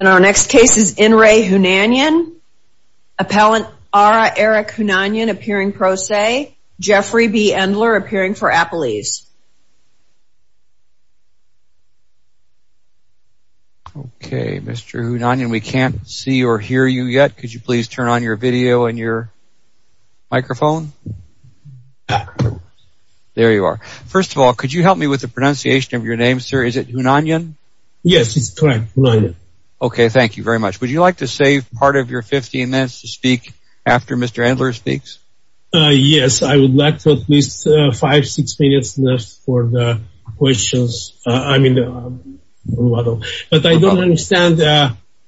And our next case is Inre Hunanyan. Appellant Ara Eric Hunanyan appearing pro se. Jeffrey B. Endler appearing for Appalese. Okay, Mr. Hunanyan, we can't see or hear you yet. Could you please turn on your video and your microphone? There you are. First of all, could you help me with the Okay, thank you very much. Would you like to save part of your 15 minutes to speak after Mr. Endler speaks? Yes, I would like to at least five, six minutes left for the questions. I mean, but I don't understand.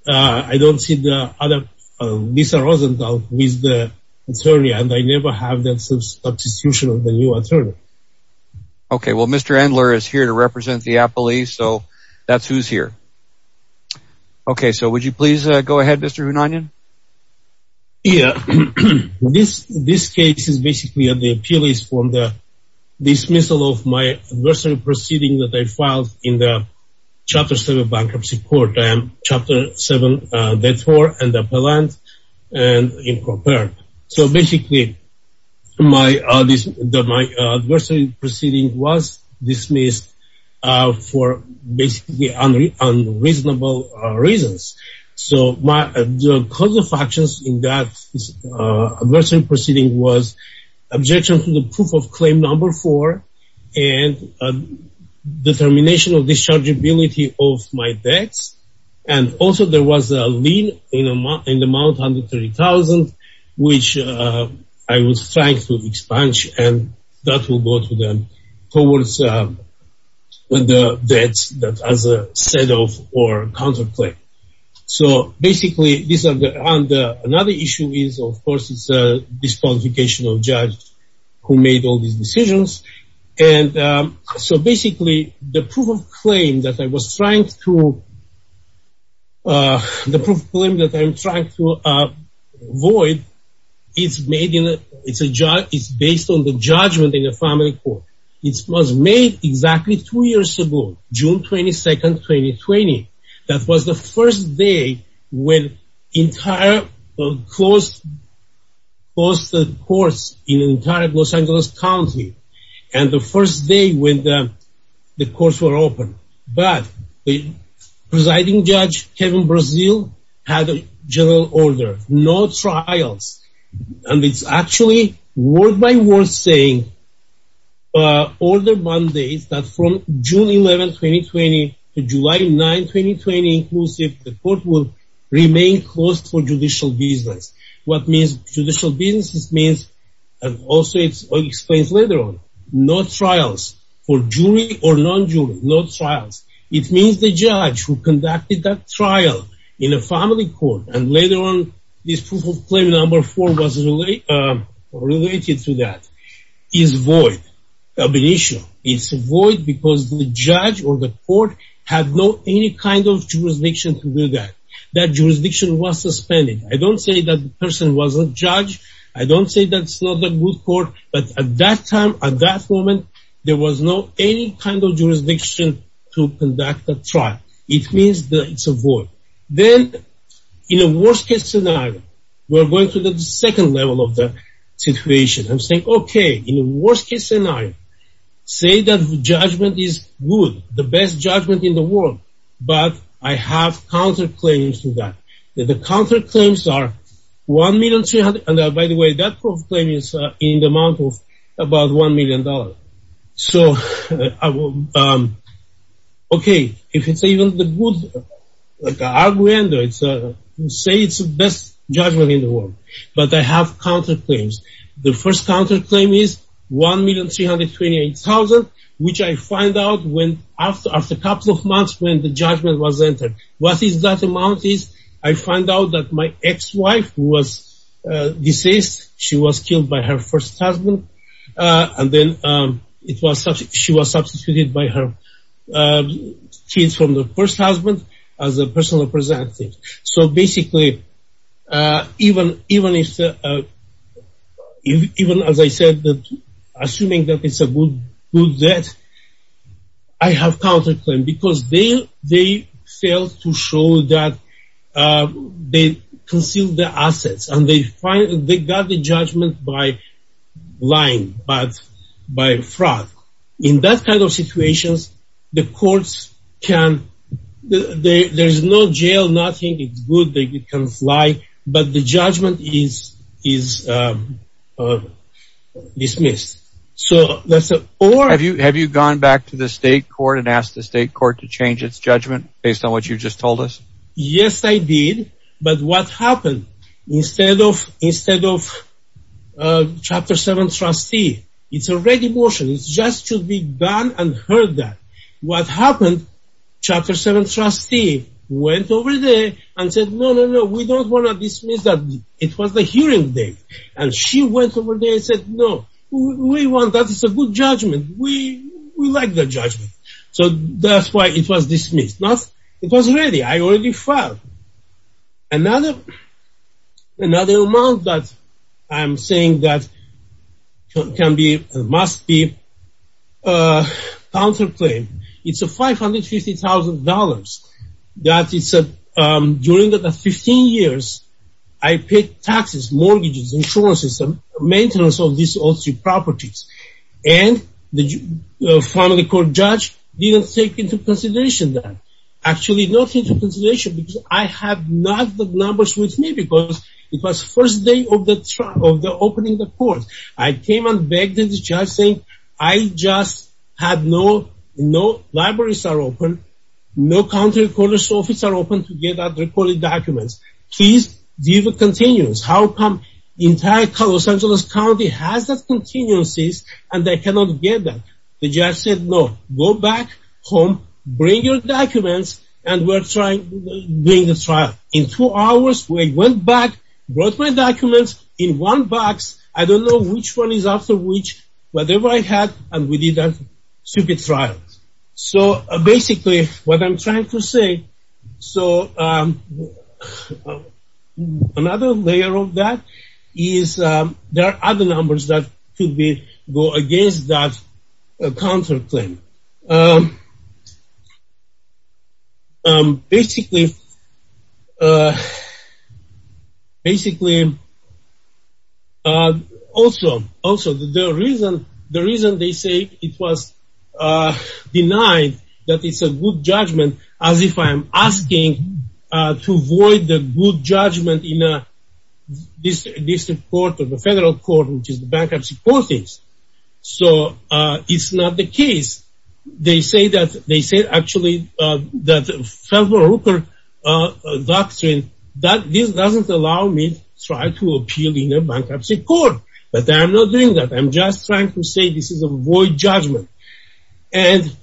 I don't see the other Mr. Rosenthal with the attorney and I never have that substitution of the new attorney. Okay, well Mr. Endler is here to represent the Appalese, so that's who's here. Okay, so would you please go ahead, Mr. Hunanyan? Yeah, this case is basically the Appalese for the dismissal of my adversary proceeding that I filed in the Chapter 7 bankruptcy court. I am Chapter 7 debtor and appellant and improper. So basically, my adversary proceeding was dismissed for basically unreasonable reasons. So my cause of actions in that adversary proceeding was objection to the proof of claim number four and a determination of dischargeability of my debts. And also there was a lien in the amount $130,000, which I was trying to expunge and that will go to them towards the debts that as a set of or counterclaim. So basically, these are the and another issue is of course it's a disqualification of judge who made all these decisions. And so basically, the proof of claim that I was trying to, the proof of claim that I'm trying to avoid, it's made in, it's a judge, it's made exactly two years ago, June 22nd, 2020. That was the first day when entire closed, closed the courts in entire Los Angeles County. And the first day when the courts were open. But the presiding judge, Kevin Brazil, had a general order, no trials. And it's actually, word by word saying, order mandates that from June 11, 2020 to July 9, 2020, inclusive, the court will remain closed for judicial business. What means judicial business is means, and also it's explained later on, no trials for jury or non-jury, no trials. It means the judge who conducted that trial in a family court, and later on, this proof of claim number four was related to that, is void of an issue. It's void because the judge or the court had no any kind of jurisdiction to do that. That jurisdiction was suspended. I don't say that person was a judge. I don't say that's not a good court. But at that time, at that moment, there was no any kind of jurisdiction. It means that it's a void. Then, in a worst case scenario, we're going to the second level of the situation. I'm saying, okay, in a worst case scenario, say that the judgment is good, the best judgment in the world. But I have counterclaims to that. The counterclaims are $1,300,000. And by the way, that proof of claim is in the amount of about $1,000,000. So, okay, if it's even the good, say it's the best judgment in the world. But I have counterclaims. The first counterclaim is $1,328,000, which I find out after a couple of months when the judgment was entered. What is that amount is, I find out that my ex-wife was deceased. She was killed by her first husband. And then, she was substituted by her kids from the first husband as a personal representative. So, basically, even as I said, assuming that it's a good debt, I have counterclaims. Because they failed to show that they concealed the assets. And they got the judgment by lying, but by fraud. In that kind of situations, the courts can, there's no jail, nothing, it's good, they can lie, but the judgment is dismissed. So, that's a... Have you gone back to the state court and asked the state court to change its judgment based on what you just told us? Yes, I did. But what happened? Instead of Chapter 7 trustee, it's a ready motion. It's just to be done and heard that. What happened? Chapter 7 trustee went over there and said, no, no, no, we don't want to dismiss that. It was the hearing date. And she went over there and said, no, we want that. It's a good judgment. We like the judgment. So, that's why it was dismissed. It was ready. I already filed. Another, another amount that I'm saying that can be, must be, counterclaimed. It's a $550,000. That it's a, during the 15 years, I paid taxes, mortgages, insurance system, maintenance of these all three properties. And the family court judge didn't take into consideration that. Actually, not take into consideration because I have not the numbers with me because it was first day of the trial, of the opening the court. I came and begged the judge saying, I just had no, no libraries are open, no county recorder's office are open to get out the recorded documents. Please give a continuance. How come entire Los Angeles County has that continuances and they cannot get that? The judge said, no, go back home, bring your documents and we're trying to bring the trial. In two hours, we went back, brought my documents in one box. I don't know which one is after which. Whatever I had and we did that stupid trial. So, basically, what I'm trying to say. So, another layer of that is there are other numbers that could be, go against that counterclaim. Basically, also, the reason they say it was denied, that it's a good judgment, as if I'm asking to the bankruptcy court is. So, it's not the case. They say that, they say, actually, that Feldman Rooker doctrine, that this doesn't allow me try to appeal in a bankruptcy court. But, I'm not doing that. I'm just trying to say this is a void judgment. And,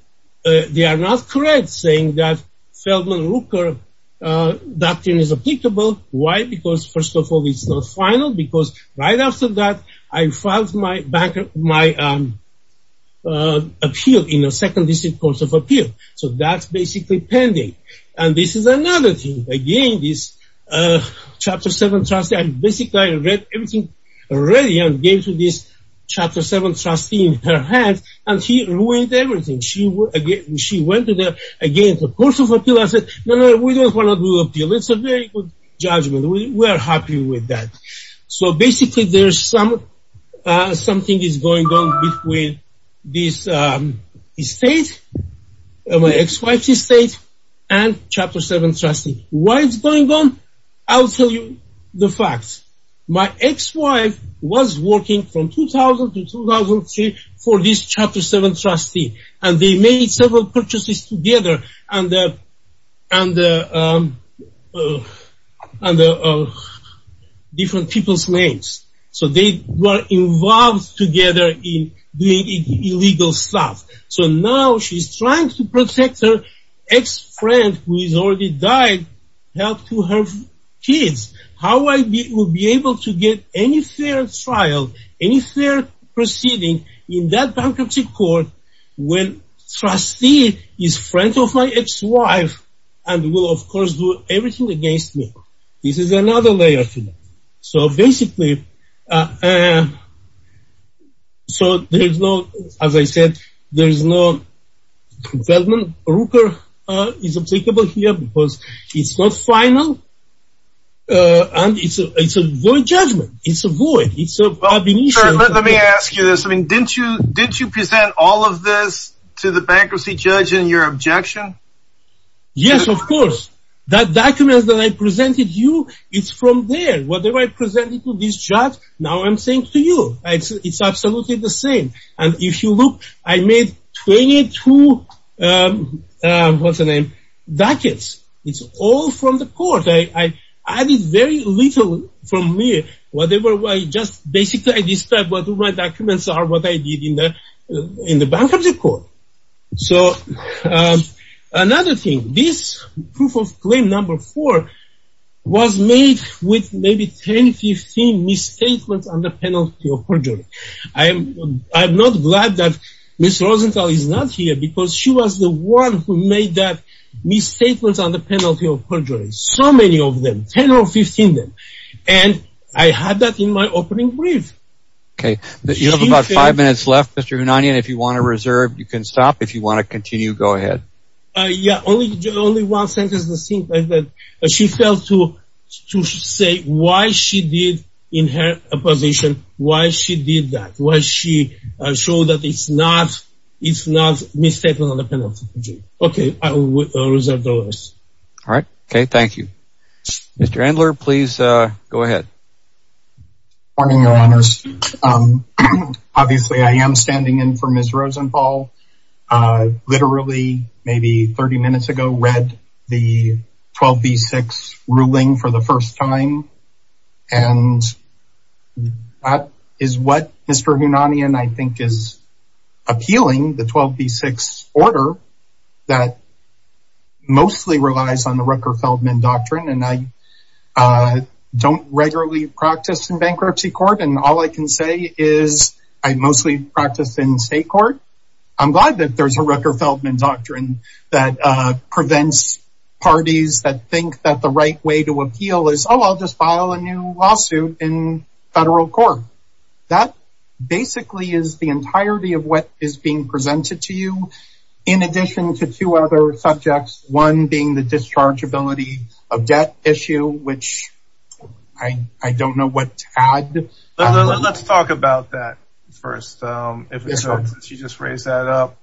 they are not correct saying that Feldman Rooker doctrine is applicable. Why? Because, first of all, it's not final. Because, right after that, I filed my appeal in a second district court of appeal. So, that's basically pending. And, this is another thing. Again, this chapter 7 trustee. And, basically, I read everything already and gave to this chapter 7 trustee in her hand. And, he ruined everything. She went to the, again, the court of appeal. I said, no, no, we don't want to do appeal. It's a very good judgment. We were happy with that. So, basically, there's something is going on with this estate. My ex-wife's estate and chapter 7 trustee. Why it's going on? I'll tell you the facts. My ex-wife was working from 2000 to 2003 for this chapter 7 trustee. And, they made several purchases together under different people's names. So, they were involved together in doing illegal stuff. So, now, she's trying to protect her ex-friend, who has already died, help to her kids. How I will be able to get any fair trial, any fair proceeding in that bankruptcy court, when trustee is friend of my ex-wife and will, of course, do everything against me. This is another layer to that. So, basically, so, there's no, as I said, there's no government ruper is applicable here because it's not final. And, it's a good judgment. It's a void. It's a abomination. Let me ask you this. I mean, didn't you, didn't you present all of this to the bankruptcy judge in your objection? Yes, of course. That document that I presented you, it's from there. Whatever I presented to this judge, now I'm saying to you. It's absolutely the same. And, if you look, I made 22, what's the name, dockets. It's all from the court. I added very little from me. Whatever, I just, basically, I described what my documents are, what I did in the, in the bankruptcy court. So, another thing, this proof of claim number four was made with maybe 10, 15 misstatements on the penalty of perjury. I am, I'm not glad that Ms. Rosenthal is not here because she was the one who made that misstatements on the penalty of perjury. So many of them, 10 or 15 of them. And, I had that in my opening brief. Okay, you have about five minutes left, Mr. Hunanian. If you want to reserve, you can stop. If you want to continue, go ahead. Yeah, only, only one sentence is the same. She failed to, to say why she did, in her position, why she did that. Why she showed that it's not, it's not misstatement on the penalty of perjury. Okay, I will reserve the rest. All right, okay, thank you. Mr. Endler, please go ahead. Morning, Your Honors. Obviously, I am standing in for Ms. Rosenthal. I literally, maybe 30 minutes ago, read the 12B6 ruling for the first time, and that is what Mr. Hunanian, I think, is appealing. The 12B6 order that mostly relies on the Rucker-Feldman doctrine, and I don't regularly practice in bankruptcy court, and all I can say is, I mostly practice in state court. I'm glad that there's a Rucker-Feldman doctrine that prevents parties that think that the right way to appeal is, oh, I'll just file a new lawsuit in federal court. That basically is the entirety of what is being presented to you, in addition to two other subjects, one being the dischargeability of debt issue, which I don't know what to add. Let's talk about that first, if you just raise that up.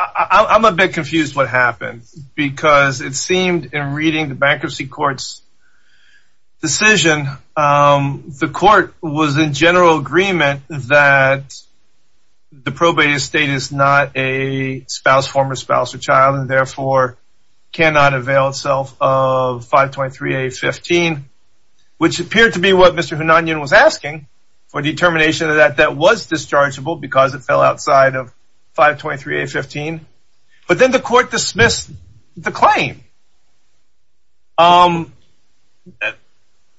I'm a bit confused what happened, because it seemed in reading the bankruptcy court's decision, the court was in general agreement that the probate estate is not a spouse, former spouse or child, and therefore cannot avail itself of 523A15, which appeared to be what Mr. Hunanian was asking for determination of that, that was dischargeable because it fell outside of 523A15, but then the court dismissed the claim.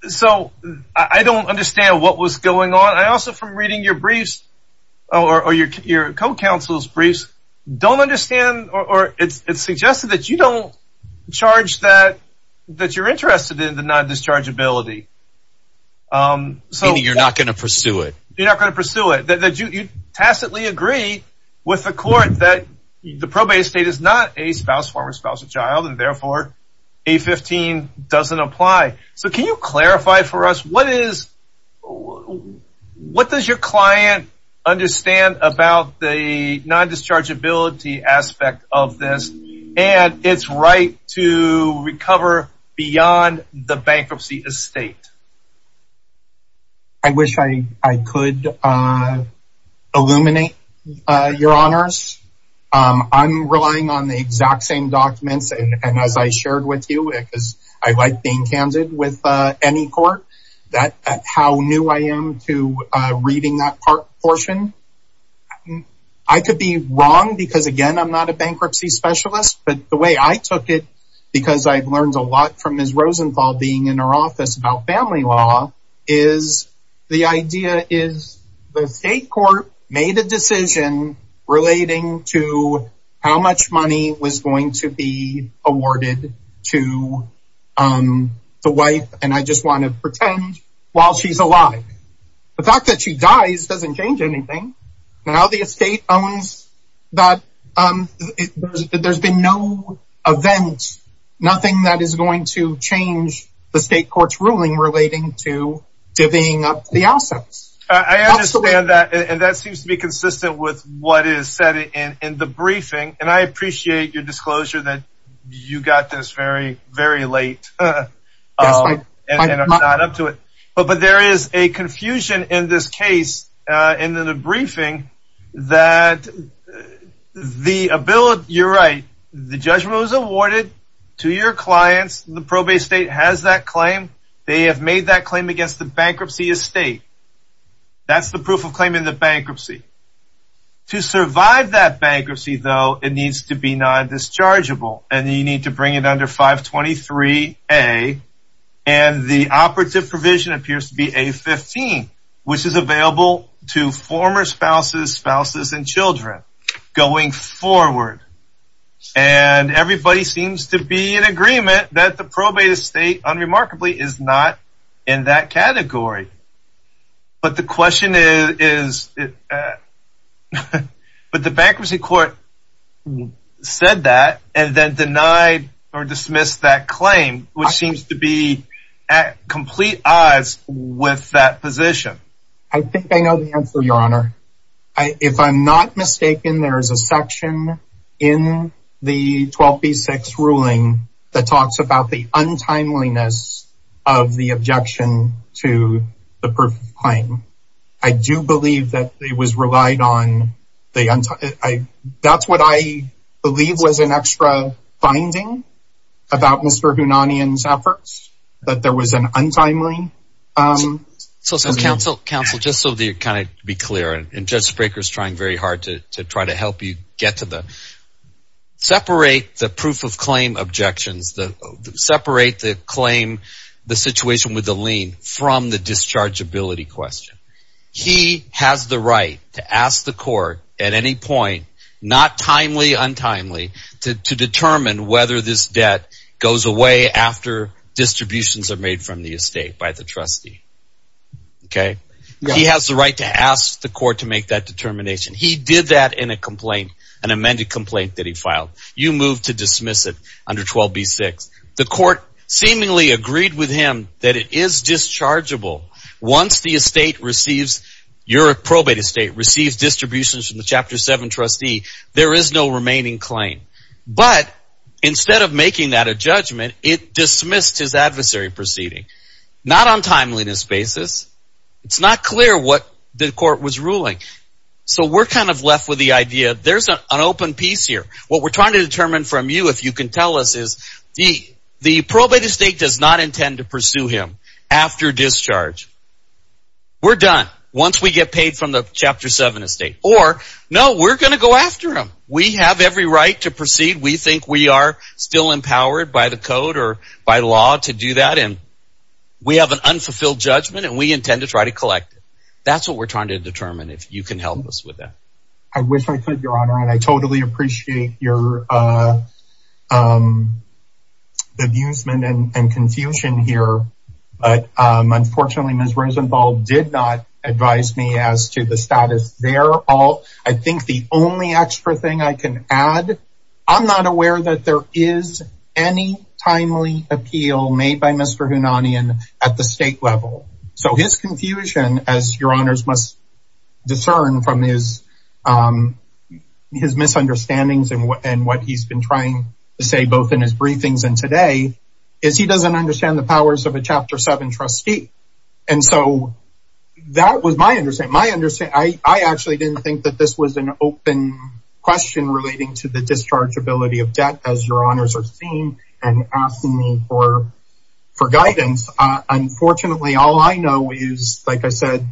So I don't understand what was going on. I also, from reading your briefs or your co-counsel's briefs, don't understand or it's suggested that you don't charge that you're interested in the non-dischargeability. Meaning you're not going to pursue it. You're not going to pursue it. You tacitly agree with the court that the probate estate is not a spouse, former spouse or child, and therefore A15 doesn't apply. So can you clarify for us what does your client understand about the non-dischargeability aspect of this and its right to recover beyond the bankruptcy estate? I wish I could illuminate your honors. I'm relying on the exact same documents and as I shared with you, because I like being candid with any court that how new I am to reading that part portion. I could be wrong because again, I'm not a bankruptcy specialist. But the way I took it, because I've learned a lot from Ms. Rosenthal being in our office about family law, is the idea is the state court made a decision relating to how much money was going to be awarded to the wife and I just want to pretend while she's alive. The fact that she dies doesn't change anything. Now the estate owns that there's been no event, nothing that is going to change the state court's ruling relating to divvying up the assets. I understand that. And that seems to be consistent with what is said in the briefing. And I appreciate your disclosure that you got this very, very late. And I'm not up to it. But but there is a confusion in this case, in the briefing, that the ability, you're right, the judgment was awarded to your clients, the probate state has that claim, they have made that claim against the bankruptcy estate. That's the proof of claim in the bankruptcy. To survive that bankruptcy, though, it needs to be non dischargeable, and you need to bring it under 523. A. And the operative provision appears to be a 15, which is available to former spouses, spouses and children going forward. And everybody seems to be in agreement that the probate estate unremarkably is not in that category. But the question is, but the bankruptcy court said that and then denied or dismissed that claim, which seems to be at complete odds with that position. I think I know the answer, Your Honor. I if I'm not mistaken, there is a section in the 12 v six ruling that talks about the untimeliness of the objection to the proof of claim. I do believe that it was relied on the untimely. That's what I believe was an extra finding about Mr. Hunanian's efforts, that there was an untimely. So some counsel counsel, just so the kind of be clear, and just breakers trying very hard to try to help you get to the separate the proof of claim objections, the separate the claim, the situation with the lien from the discharge ability question. He has the right to ask the court at any point, not timely, untimely to determine whether this debt goes away after distributions are made from the estate by the trustee. Okay, he has the right to ask the court to make that determination. He did that in a complaint, an amended complaint that he filed. You move to dismiss it under 12 b six. The court seemingly agreed with him that it is dischargeable. Once the estate receives your probate estate receives distributions from the chapter seven trustee, there is no remaining claim. But instead of making that a judgment, it dismissed his adversary proceeding not on timeliness basis. It's not clear what the court was ruling. So we're kind of left with the idea. There's an open piece here. What we're trying to determine from you, if you can tell us is the the probate estate does not intend to pursue him after discharge. We're done once we get paid from the chapter seven estate or no, we're gonna go after him. We have every right to proceed. We think we are still empowered by the code or by law to do that. And we have an unfulfilled judgment, and we trying to determine if you can help us with that. I wish I could, Your Honor, and I totally appreciate your amusement and confusion here. But unfortunately, Ms. Risenbald did not advise me as to the status. They're all I think the only extra thing I can add, I'm not aware that there is any timely appeal made by Mr. Hunanian at the state level. So his confusion, as Your Honors must discern from his misunderstandings and what he's been trying to say, both in his briefings and today, is he doesn't understand the powers of a chapter seven trustee. And so that was my understanding. My understanding, I actually didn't think that this was an open question relating to the dischargeability of debt, as Your All I know is, like I said,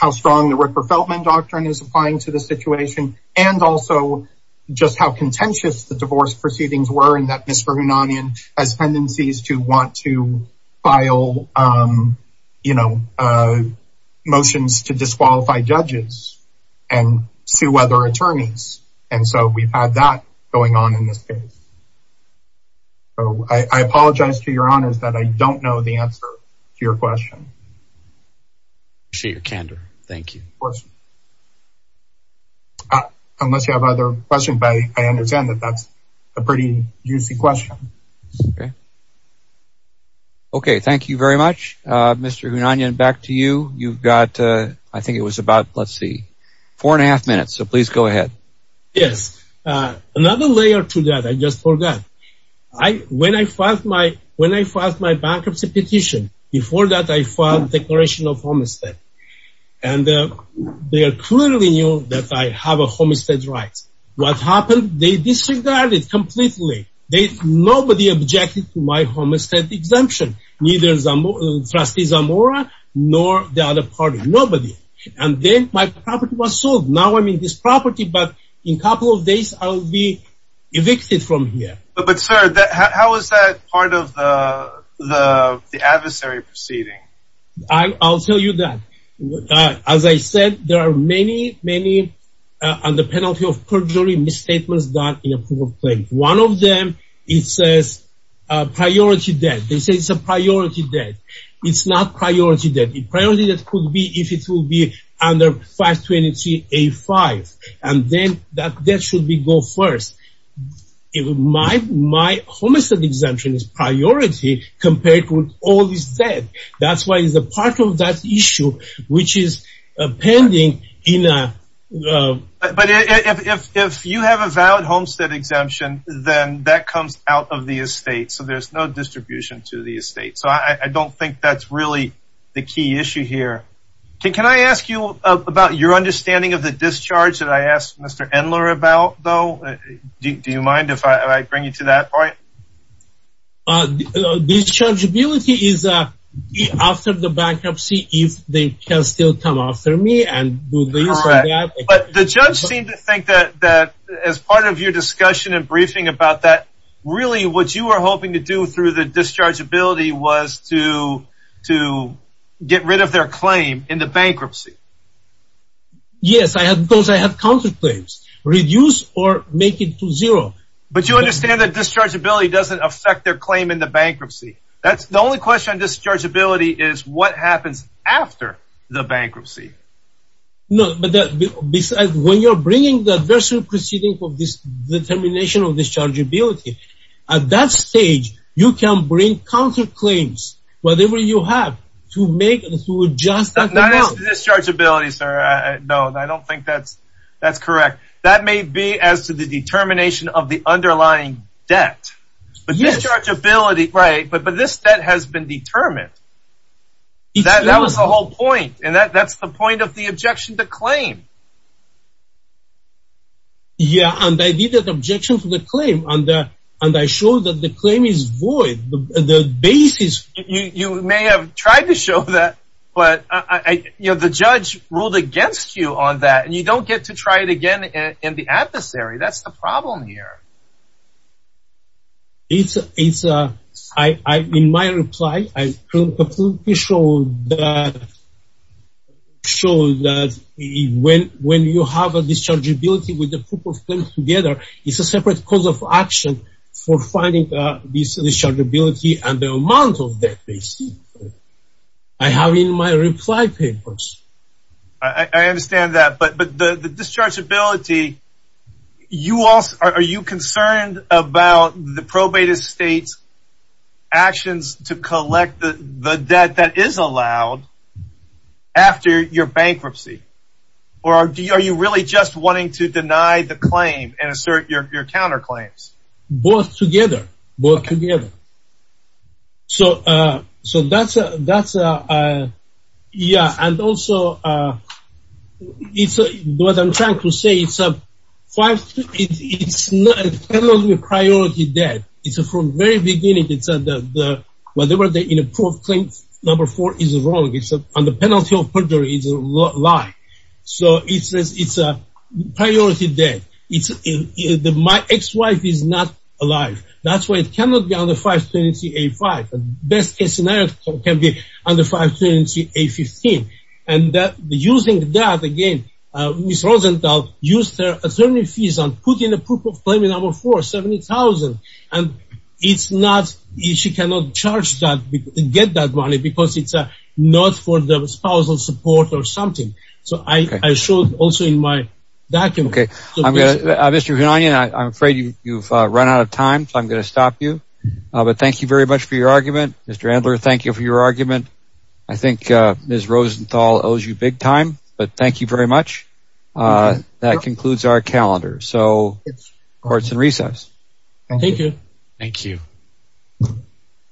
how strong the Ricker-Feltman doctrine is applying to the situation. And also, just how contentious the divorce proceedings were in that Mr. Hunanian has tendencies to want to file, you know, motions to disqualify judges and sue other attorneys. And so we've had that going on in this case. So I apologize to Your Honors that I don't know the answer to your question. I appreciate your candor. Thank you. Unless you have other questions, I understand that that's a pretty juicy question. Okay, thank you very much. Mr. Hunanian, back to you. You've got, I think it was about, let's see, four and a half minutes. So please go ahead. Yes. Another layer to that I just forgot. When I filed my bankruptcy petition, before that I filed a declaration of homestead. And they clearly knew that I have a homestead right. What happened? They disregarded completely. Nobody objected to my homestead exemption. Neither Trustee Zamora, nor the other party. Nobody. And then my property was sold. Now I'm in this property, but in a couple of days, I'll be evicted from here. But sir, how is that part of the adversary proceeding? I'll tell you that. As I said, there are many, many under penalty of perjury misstatements done in a proof of claim. One of them, it says priority debt. They say it's a priority debt. It's not priority debt. The priority debt could be if it will be under 523A5. And then that debt should be go first. In my my homestead exemption is priority compared to all this debt. That's why it's a part of that issue, which is pending in a... But if you have a valid homestead exemption, then that comes out of the estate. So there's no distribution to the estate. So I don't think that's really the key issue here. Can I ask you about your understanding of the to that point? Dischargeability is after the bankruptcy, if they can still come after me and do this or that. But the judge seemed to think that that as part of your discussion and briefing about that, really what you were hoping to do through the dischargeability was to to get rid of their claim in the bankruptcy. Yes, I have those I have counterclaims, reduce or make it to zero. But you understand that dischargeability doesn't affect their claim in the bankruptcy. That's the only question. Dischargeability is what happens after the bankruptcy. No, but that besides when you're bringing the adversary proceeding for this determination of dischargeability, at that stage, you can bring counterclaims, whatever you have to make and to adjust. Dischargeability, sir. No, I don't think that's that's correct. That may be as to the determination of the underlying debt, but dischargeability. Right. But but this that has been determined. That that was the whole point. And that that's the point of the objection to claim. Yeah, and I did that objection to the claim on that. And I showed that the claim is void. The basis, you may have tried to show that. But I, you know, the judge ruled against you on that and you don't get to try it again in the adversary. That's the problem here. It's a it's a I in my reply, I completely show that show that when when you have a dischargeability with the proof of claim together, it's a separate cause of action for finding this dischargeability and the amount of debt they see. I have in my reply papers. I understand that. But but the dischargeability you also are you concerned about the probate estates actions to collect the debt that is allowed after your bankruptcy? Or are you really just wanting to deny the claim and assert your counterclaims? Both together, both together. So, so that's a that's a Yeah, and also it's what I'm trying to say it's a five. It's not a penalty of priority debt. It's a from very beginning. It's a the whatever the proof of claim number four is wrong. It's on the penalty of perjury is a lie. So it's a priority debt. It's in the my ex wife is not alive. That's why it cannot be on the 520 a five best case scenario can be on the 520 a 15. And that using that again, Miss Rosenthal used her attorney fees on put in a proof of claim in our for 70,000. And it's not easy cannot charge that get that money because it's not for the spousal support or something. So I showed also in my document, okay, I'm gonna I'm afraid you've run out of time. So I'm going to stop you. But thank you very much for your argument. Mr. Andler, thank you for your argument. I think Miss Rosenthal owes you big time. But thank you very much. That concludes our calendar. So it's courts and recess. Thank you. Thank you.